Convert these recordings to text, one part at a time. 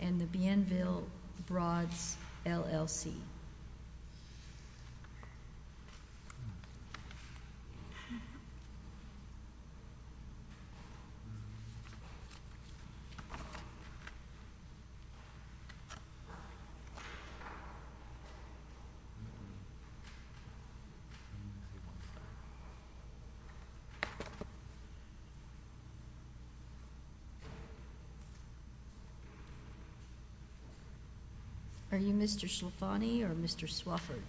and the Bienville Broads, LLC. Mr. Swofford,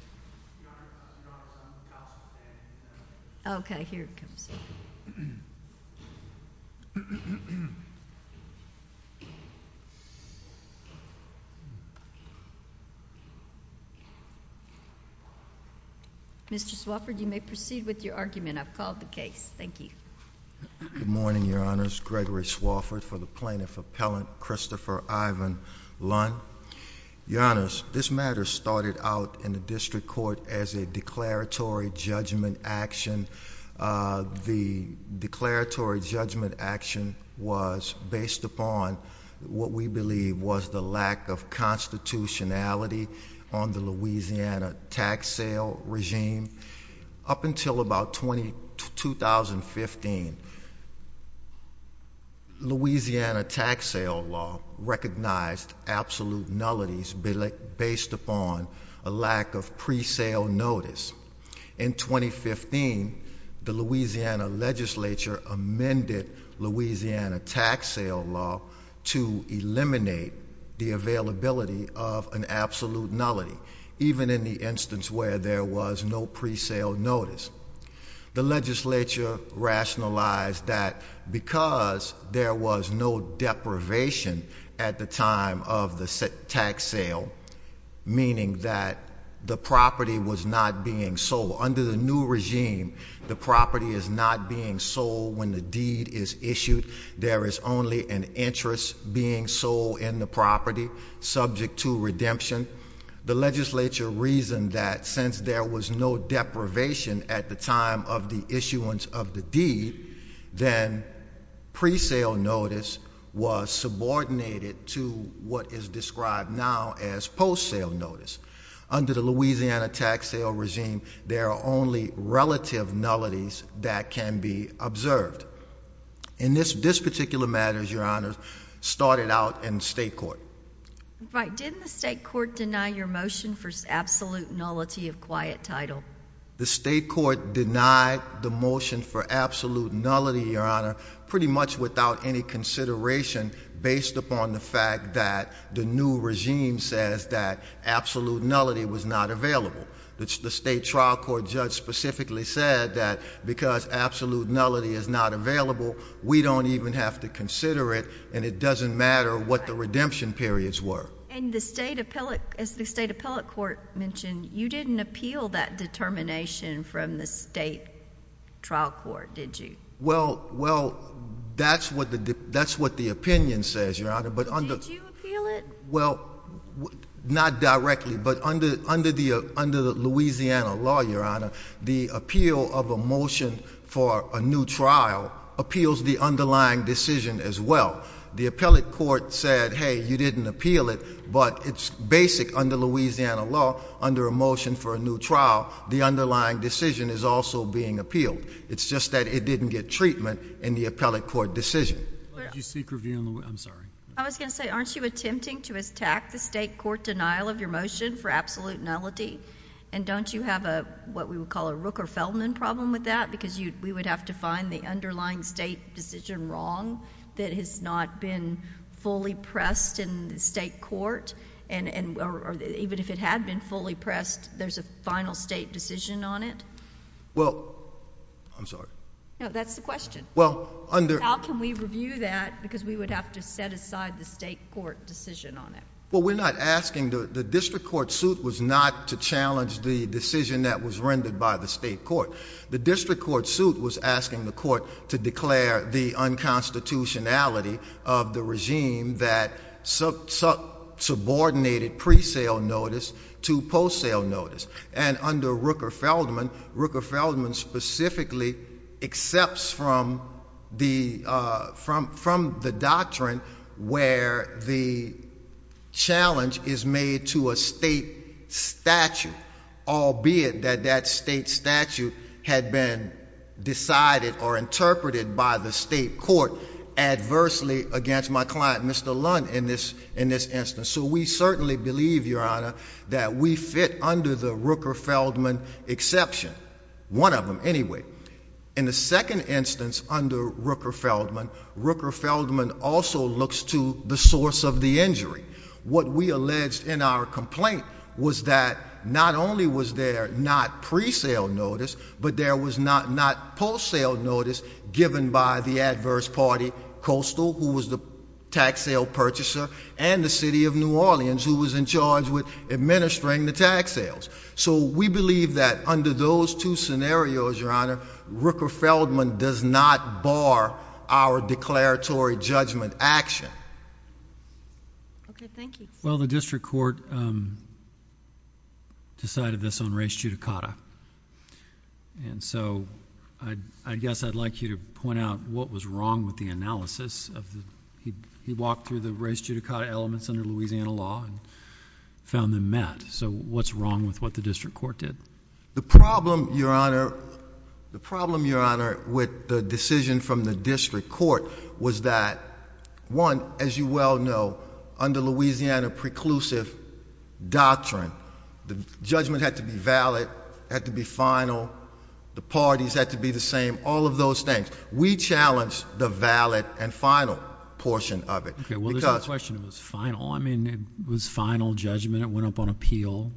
you may proceed with your argument. I've called the case. Thank you. Good morning, Your Honors. Gregory Swofford for the Plaintiff Appellant Christopher Ivan Lund. Your Honors, this matter started out in the District Court as a declaratory judgment action. The declaratory judgment action was based upon what we believe was the lack of pre-sale notice. In 2015, Louisiana tax sale law recognized absolute nullities based upon a lack of pre-sale notice. In 2015, the Louisiana Legislature amended Louisiana tax sale law to eliminate the availability of an absolute nullity, even in the instance where there was no pre-sale notice. The Legislature rationalized that because there was no deprivation at the time of the tax sale, meaning that the property was not being sold. Under the new regime, the property is not being sold when the deed is issued. There is only an interest being sold in the property subject to redemption. The Legislature reasoned that since there was no deprivation at the time of the issuance of the deed, then pre-sale notice was subordinated to what is described now as post-sale notice. Under the Louisiana tax sale regime, there are only relative nullities that can be observed. In this particular matter, Your Honors, it is not in the state court. Right. Didn't the state court deny your motion for absolute nullity of quiet title? The state court denied the motion for absolute nullity, Your Honor, pretty much without any consideration based upon the fact that the new regime says that absolute nullity was not available. The state trial court judge specifically said that because absolute nullity is not available, we don't even have to consider it, and it doesn't matter what the redemption periods were. As the state appellate court mentioned, you didn't appeal that determination from the state trial court, did you? Well, that's what the opinion says, Your Honor. Did you appeal it? Well, not directly, but under the Louisiana law, Your Honor, the appeal of a motion for a new trial appeals the underlying decision as well. The appellate court said, hey, you didn't appeal it, but it's basic under Louisiana law, under a motion for a new trial, the underlying decision is also being appealed. It's just that it didn't get treatment in the appellate court decision. I was going to say, aren't you attempting to attack the state court denial of your motion for absolute nullity? And don't you have what we would call a Rooker-Feldman problem with that? Because we would have to set aside the underlying state decision wrong that has not been fully pressed in the state court, or even if it had been fully pressed, there's a final state decision on it? Well, I'm sorry. No, that's the question. How can we review that? Because we would have to set aside the state court decision on it. Well, we're not asking, the district court suit was not to challenge the decision that was rendered by the state court. The district court suit was asking the court to declare the unconstitutionality of the regime that subordinated pre-sale notice to post-sale notice. And under Rooker-Feldman, Rooker-Feldman specifically accepts from the doctrine where the challenge is made to a state statute, albeit that that state statute had been decided or interpreted by the state court adversely against my client, Mr. Lund, in this instance. So we certainly believe, Your Honor, that we fit under the Rooker-Feldman exception, one of them anyway. In the second instance under Rooker-Feldman, Rooker-Feldman also looks to the source of the injury. What we believe is that not only was there not pre-sale notice, but there was not post-sale notice given by the adverse party, Coastal, who was the tax sale purchaser, and the City of New Orleans, who was in charge with administering the tax sales. So we believe that under those two scenarios, Your Honor, Rooker-Feldman does not bar our declaratory judgment action. Okay. Thank you. Well, the district court decided this on res judicata. And so I guess I'd like you to point out what was wrong with the analysis of the he walked through the res judicata elements under Louisiana law and found them met. So what's wrong with what the district court did? The problem, Your Honor, the problem, Your Honor, with the decision from the district court was that, one, as you well know, under Louisiana preclusive doctrine, the judgment had to be valid, had to be final, the parties had to be the same, all of those things. We challenged the valid and final portion of it. Okay. Well, there's no question it was final. I mean, it was final judgment. It went up on appeal.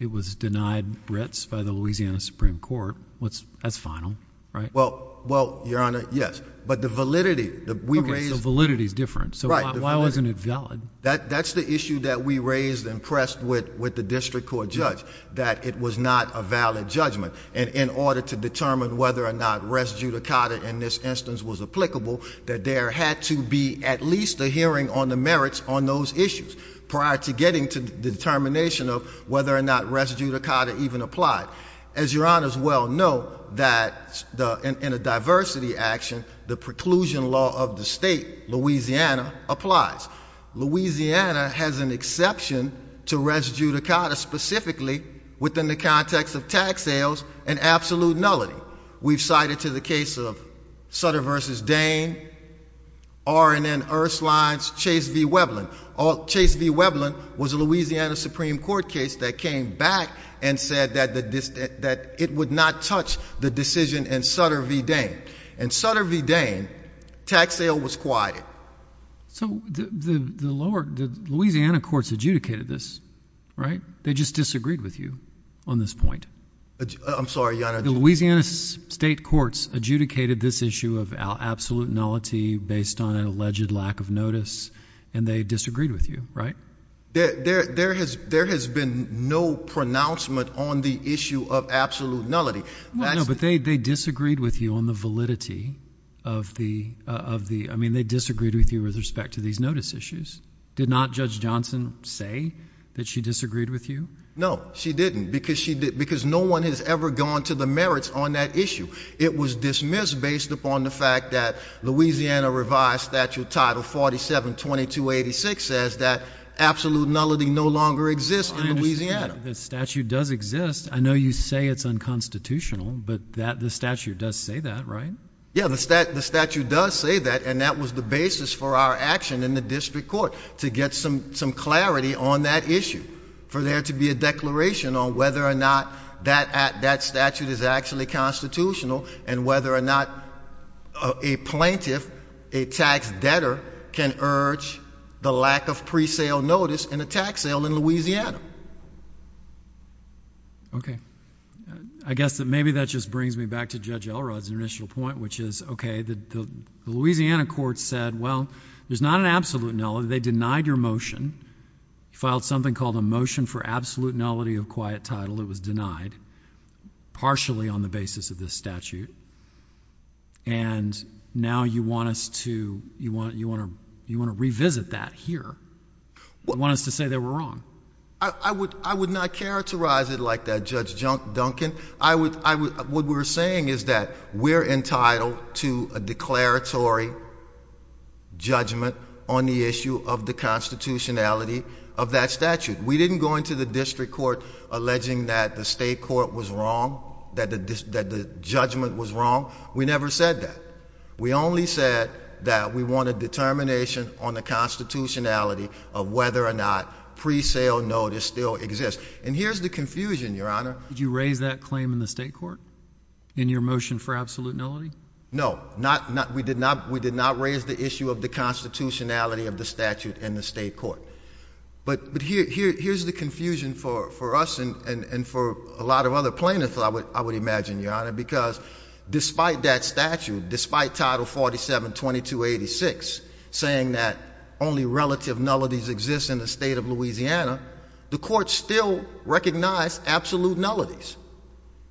It was denied Brits by the Louisiana Supreme Court. That's final, right? Well, Your Honor, yes. But the validity, we raised Okay, so validity is different. So why wasn't it valid? That's the issue that we raised and pressed with the district court judge, that it was not a valid judgment. And in order to determine whether or not res judicata in this instance was applicable, that there had to be at least a hearing on the merits on those issues prior to getting to the determination of whether or not res judicata even applied. As Your Honor's well know, that in a diversity action, the preclusion law of the state, Louisiana, applies. Louisiana has an exception to res judicata specifically within the context of tax sales and absolute nullity. We've cited to the case of Sutter v. Dane, R&N Earthslides, Chase v. Weblin. Chase v. Weblin was a Louisiana Supreme Court case that came back and said that it would not touch the decision in Sutter v. Dane. In Sutter v. Dane, tax sale was quiet. So the Louisiana courts adjudicated this, right? They just disagreed with you on this point. I'm sorry, Your Honor. The Louisiana state courts adjudicated this issue of absolute nullity based on an alleged lack of notice, and they disagreed with you, right? There has been no pronouncement on the issue of absolute nullity. No, but they disagreed with you on the validity of the, I mean, they disagreed with you with respect to these notice issues. Did not Judge Johnson say that she disagreed with you? No, she didn't, because no one has ever gone to the merits on that issue. It was dismissed based upon the fact that Louisiana revised statute title 472286 says that absolute nullity no longer exists in Louisiana. The statute does exist. I know you say it's unconstitutional, but the statute does say that, right? Yeah, the statute does say that, and that was the basis for our action in the district court to get some clarity on that issue, for there to be a declaration on whether or not that statute is actually constitutional and whether or not a plaintiff, a tax debtor, can urge the lack of pre-sale notice in a tax sale in Louisiana. Okay. I guess that maybe that just brings me back to Judge Elrod's initial point, which is, okay, the Louisiana courts said, well, there's not an absolute nullity. They denied your motion. You filed something called a motion for absolute nullity of quiet title. It was denied partially on the basis of this statute, and now you want us to, you want to revisit that here. You want us to say that we're wrong. I would not characterize it like that, Judge Duncan. What we're saying is that we're entitled to a declaratory judgment on the issue of the constitutionality of that statute. We didn't go into the district court alleging that the state court was wrong, that the judgment was wrong. We never said that. We only said that we wanted determination on the constitutionality of whether or not pre-sale notice still exists, and here's the confusion, Your Honor. Did you raise that claim in the state court in your motion for absolute nullity? No. We did not raise the issue of the constitutionality of the statute in the state court, but here's the confusion for us and for a lot of other plaintiffs, I would imagine, Your Honor, because despite that statute, despite Title 47-2286 saying that only relative nullities exist in the state of Louisiana, the court still recognized absolute nullities.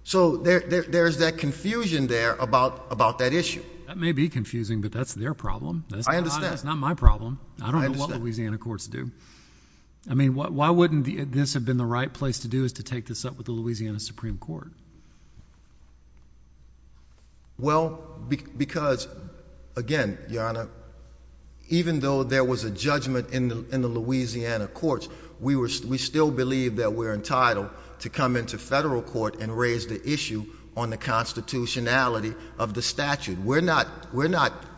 So there's that confusion there about that issue. That may be confusing, but that's their problem. I understand. That's not my problem. I don't know what Louisiana courts do. I mean, why wouldn't this have been the right place to do is to take this up with the Louisiana Supreme Court? Well, because, again, Your Honor, even though there was a judgment in the Louisiana courts, we still believe that we're entitled to come into federal court and raise the issue on the constitutionality of the statute. We're not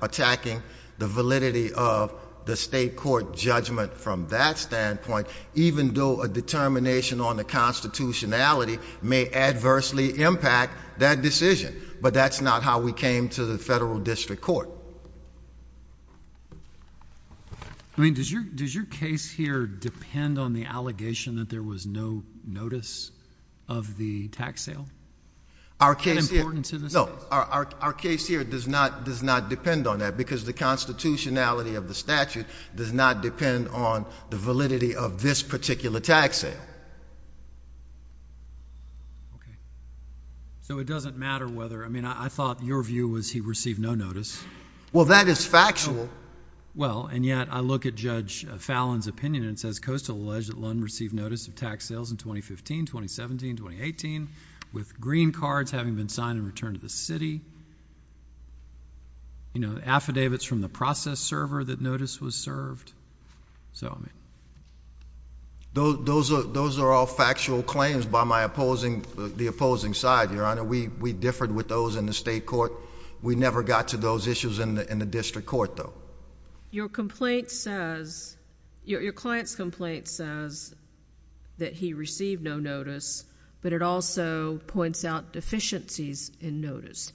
attacking the validity of the state court judgment from that standpoint, even though a determination on the constitutionality may adversely impact that decision. But that's not how we came to the federal district court. I mean, does your case here depend on the allegation that there was no notice of the tax sale? Our case here— And importance to the state? No. Our case here does not depend on that because the constitutionality of the statute does not depend on the validity of this particular tax sale. Okay. So it doesn't matter whether—I mean, I thought your view was he received no notice. Well, that is factual. Well, and yet I look at Judge Fallin's opinion and it says, Coastal alleged that Lund received notice of tax sales in 2015, 2017, 2018, with green cards having been signed and returned to the city. You know, affidavits from the process server that notice was served. Those are all factual claims by my opposing—the opposing side, Your Honor. We differed with those in the state court. We never got to those issues in the district court, though. Your complaint says—your client's complaint says that he received no notice, but it also points out deficiencies in notice.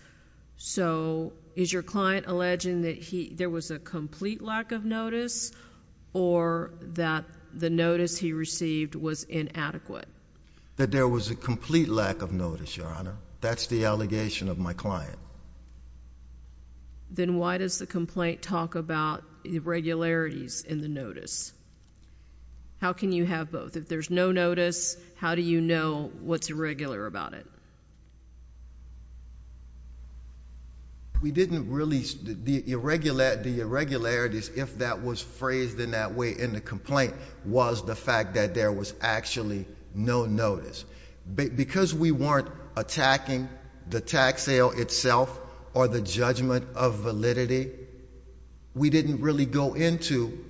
So is your client alleging that there was a complete lack of notice or that the notice he received was inadequate? That there was a complete lack of notice, Your Honor. That's the allegation of my client. Then why does the complaint talk about irregularities in the notice? How can you have both? If there's no notice, how do you know what's irregular about it? We didn't really—the irregularities, if that was phrased in that way in the complaint, was the fact that there was actually no notice. Because we weren't attacking the tax sale itself or the judgment of validity, we didn't really go into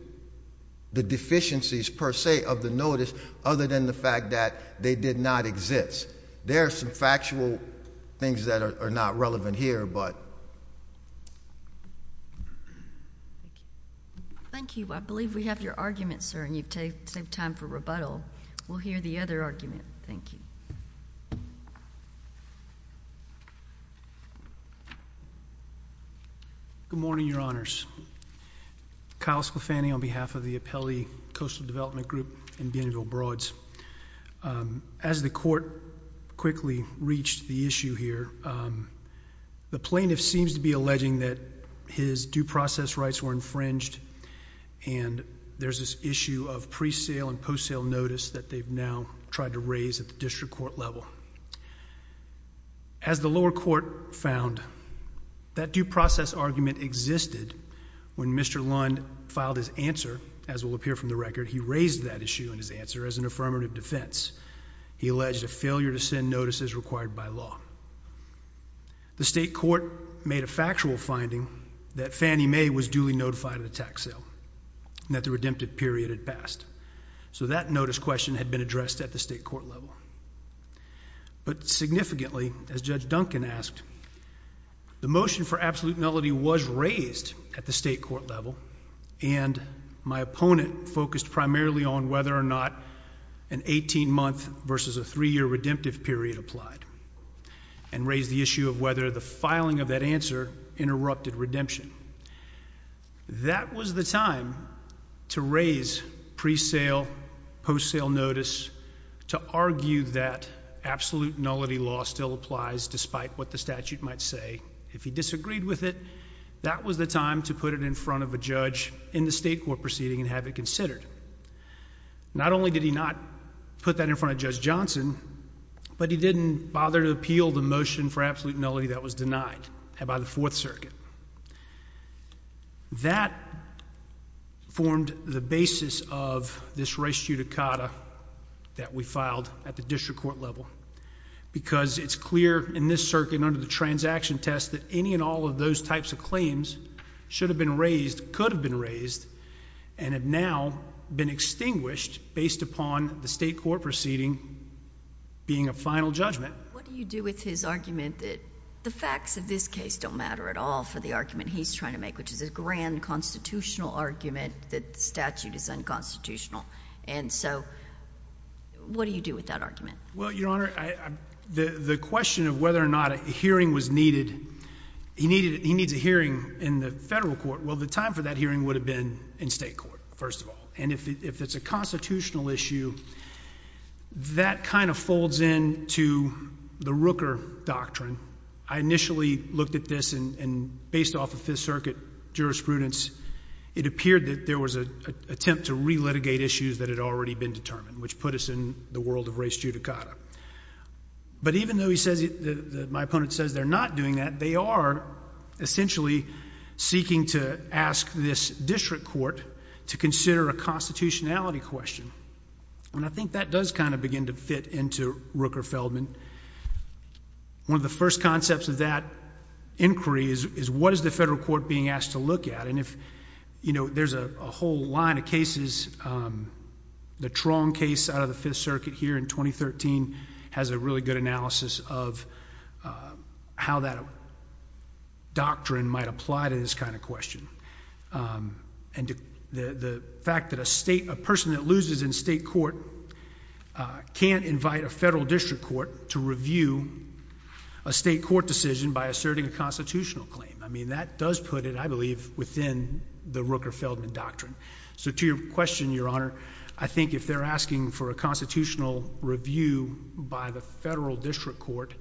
the deficiencies, per se, of the notice, other than the fact that they did not exist. There are some factual things that are not relevant here, but... Thank you. I believe we have your argument, sir, and you've saved time for rebuttal. We'll hear the other argument. Thank you. Good morning, Your Honors. Kyle Scalfani on behalf of the Apelli Coastal Development Group and Banneville Broads. As the court quickly reached the issue here, the plaintiff seems to be alleging that his due process rights were infringed, and there's this issue of pre-sale and post-sale notice that they've now tried to raise at the district court level. As the lower court found, that due process argument existed when Mr. Lund filed his answer, as will appear from the record, he raised that issue in his answer as an affirmative defense. He alleged a failure to send notices required by law. The state court made a factual finding that Fannie Mae was duly notified of the tax sale, and that the redemptive period had passed. So that notice question had been addressed at the state court level. But significantly, as Judge Duncan asked, the motion for absolutenality was raised at the state court level, and my opponent focused primarily on whether or not an 18-month versus a 3-year redemptive period applied, and raised the issue of whether the filing of that answer interrupted redemption. That was the time to raise pre-sale, post-sale notice, to argue that absolutenality law still applies despite what the statute might say. If he disagreed with it, that was the time to put it in front of a judge in the state court proceeding and have it considered. Not only did he not put that in front of Judge Johnson, but he didn't bother to appeal the motion for absolutenality that was denied by the Fourth Circuit. That formed the basis of this res judicata that we filed at the district court level, because it's clear in this circuit and under the transaction test that any and all of those types of claims should have been raised, could have been raised, and have now been extinguished based upon the state court proceeding being a final judgment. What do you do with his argument that the facts of this case don't matter at all for the argument he's trying to make, which is a grand constitutional argument that the statute is unconstitutional? And so what do you do with that argument? Well, Your Honor, the question of whether or not a hearing was needed, he needs a hearing in the federal court. Well, the time for that hearing would have been in state court, first of all. And if it's a constitutional issue, that kind of folds into the Rooker doctrine. I initially looked at this, and based off of Fifth Circuit jurisprudence, it appeared that there was an attempt to re-litigate issues that had already been determined, which put us in the world of res judicata. But even though my opponent says they're not doing that, they are essentially seeking to ask this district court to consider a constitutionality question. And I think that does kind of begin to fit into Rooker-Feldman. One of the first concepts of that inquiry is what is the federal court being asked to in 2013 has a really good analysis of how that doctrine might apply to this kind of question. And the fact that a state, a person that loses in state court can't invite a federal district court to review a state court decision by asserting a constitutional claim. I mean, that does put it, I believe, within the Rooker-Feldman doctrine. So to your question, Your Honor, I think if they're asking for a constitutional review by the federal district court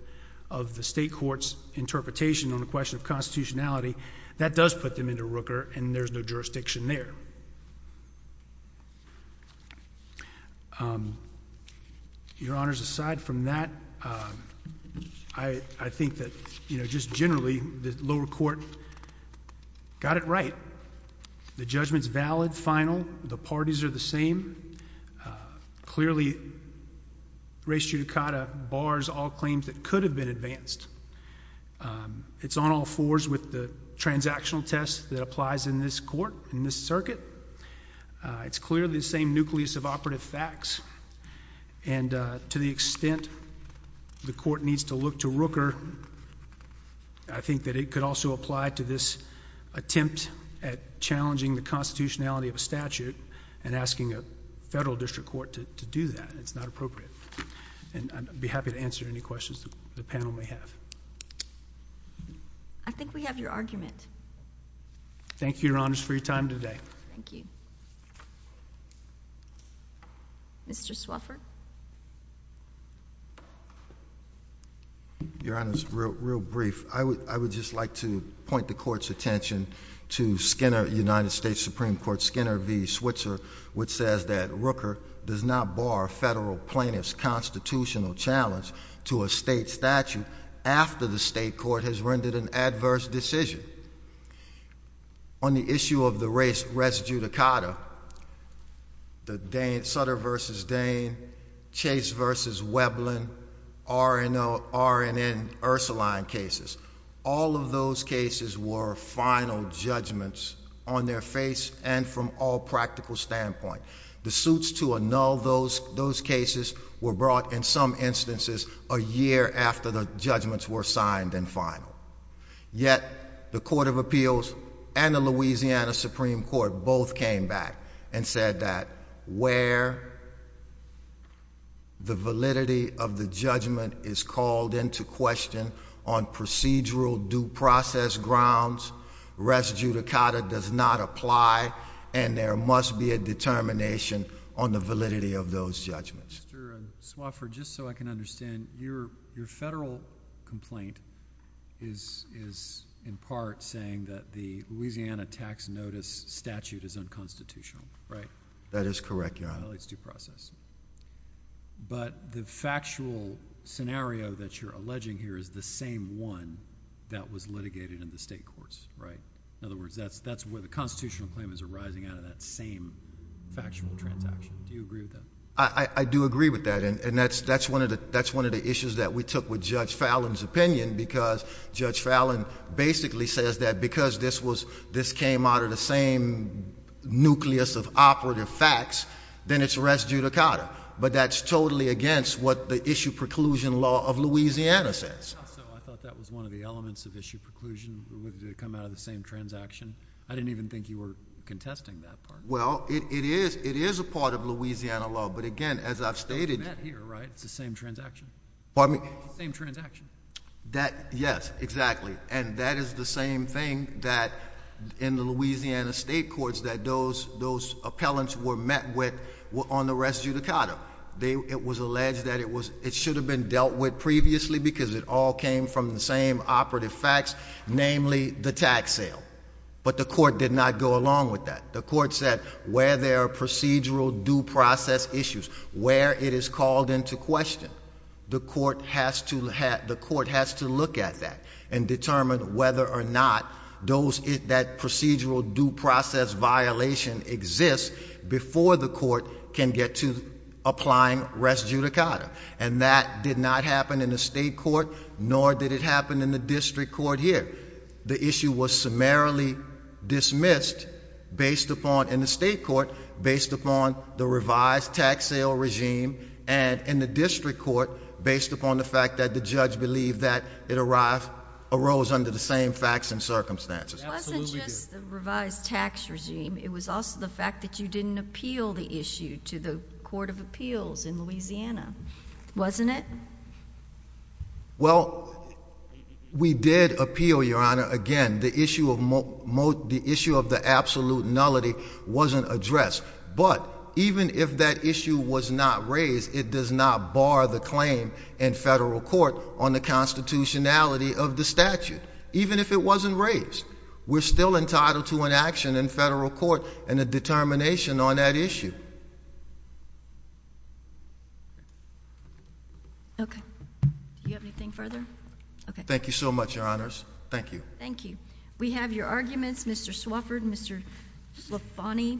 of the state court's interpretation on the question of constitutionality, that does put them into Rooker, and there's no jurisdiction there. Your Honors, aside from that, I think that, you know, just generally the lower court got it right. The judgment's valid, final. The parties are the same. Clearly, res judicata bars all claims that could have been advanced. It's on all fours with the transactional test that applies in this court, in this circuit. It's clearly the same nucleus of operative facts. And to the extent the court needs to look to Rooker, I think that it could also apply to this attempt at challenging the constitutionality of a statute and asking a federal district court to do that. It's not appropriate. And I'd be happy to answer any questions the panel may have. I think we have your argument. Thank you, Your Honors, for your time today. Thank you. Mr. Swafford? Your Honors, real brief. I would just like to point the court's attention to Skinner, United States Supreme Court, Skinner v. Switzer, which says that Rooker does not bar federal plaintiffs' constitutional challenge to a state statute after the state court has rendered an adverse decision. On the issue of the res judicata, the Sutter v. Dane, Chase v. Weblin, R&N Ursuline cases, all of those cases were final judgments on their face and from all practical standpoint. The suits to annul those cases were brought in some instances a year after the judgments were signed and final. Yet, the Court of Appeals and the Louisiana Supreme Court both came back and said that where the validity of the judgment is called into question on procedural due process grounds, res judicata does not apply, and there must be a determination on the validity of those judgments. Mr. Swafford, just so I can understand, your federal complaint is in part saying that the Louisiana tax notice statute is unconstitutional, right? That is correct, Your Honor. It violates due process. But the factual scenario that you're alleging here is the same one that was litigated in the state courts, right? In other words, that's where the constitutional claim is arising out of that same factual transaction. Do you agree with that? I do agree with that, and that's one of the issues that we took with Judge Fallin's opinion because Judge Fallin basically says that because this came out of the same nucleus of operative facts, then it's res judicata. But that's totally against what the Issue Preclusion Law of Louisiana says. I thought that was one of the elements of Issue Preclusion that would come out of the same transaction. I didn't even think you were contesting that part. Well, it is a part of Louisiana law. But again, as I've stated— It's not here, right? It's the same transaction. Pardon me? Same transaction. Yes, exactly. And that is the same thing that in the Louisiana state courts that those appellants were met with on the res judicata. It was alleged that it should have been dealt with previously because it all came from the same operative facts, namely the tax sale. But the court did not go along with that. The court said where there are procedural due process issues, where it is called into question, the court has to look at that and determine whether or not that procedural due process violation exists before the court can get to applying res judicata. And that did not happen in the state court, nor did it happen in the district court here. The issue was summarily dismissed in the state court based upon the revised tax sale regime and in the district court based upon the fact that the judge believed that it arose under the same facts and circumstances. It wasn't just the revised tax regime. It was also the fact that you didn't appeal the issue to the Court of Appeals in Louisiana, wasn't it? Well, we did appeal, Your Honor. Again, the issue of the absolute nullity wasn't addressed. But even if that issue was not raised, it does not bar the claim in federal court on the constitutionality of the statute, even if it wasn't raised. We're still entitled to an action in federal court and a determination on that issue. Okay. Do you have anything further? Okay. Thank you so much, Your Honors. Thank you. Thank you. We have your arguments, Mr. Swafford, Mr. Slafani, and Mr. Brown.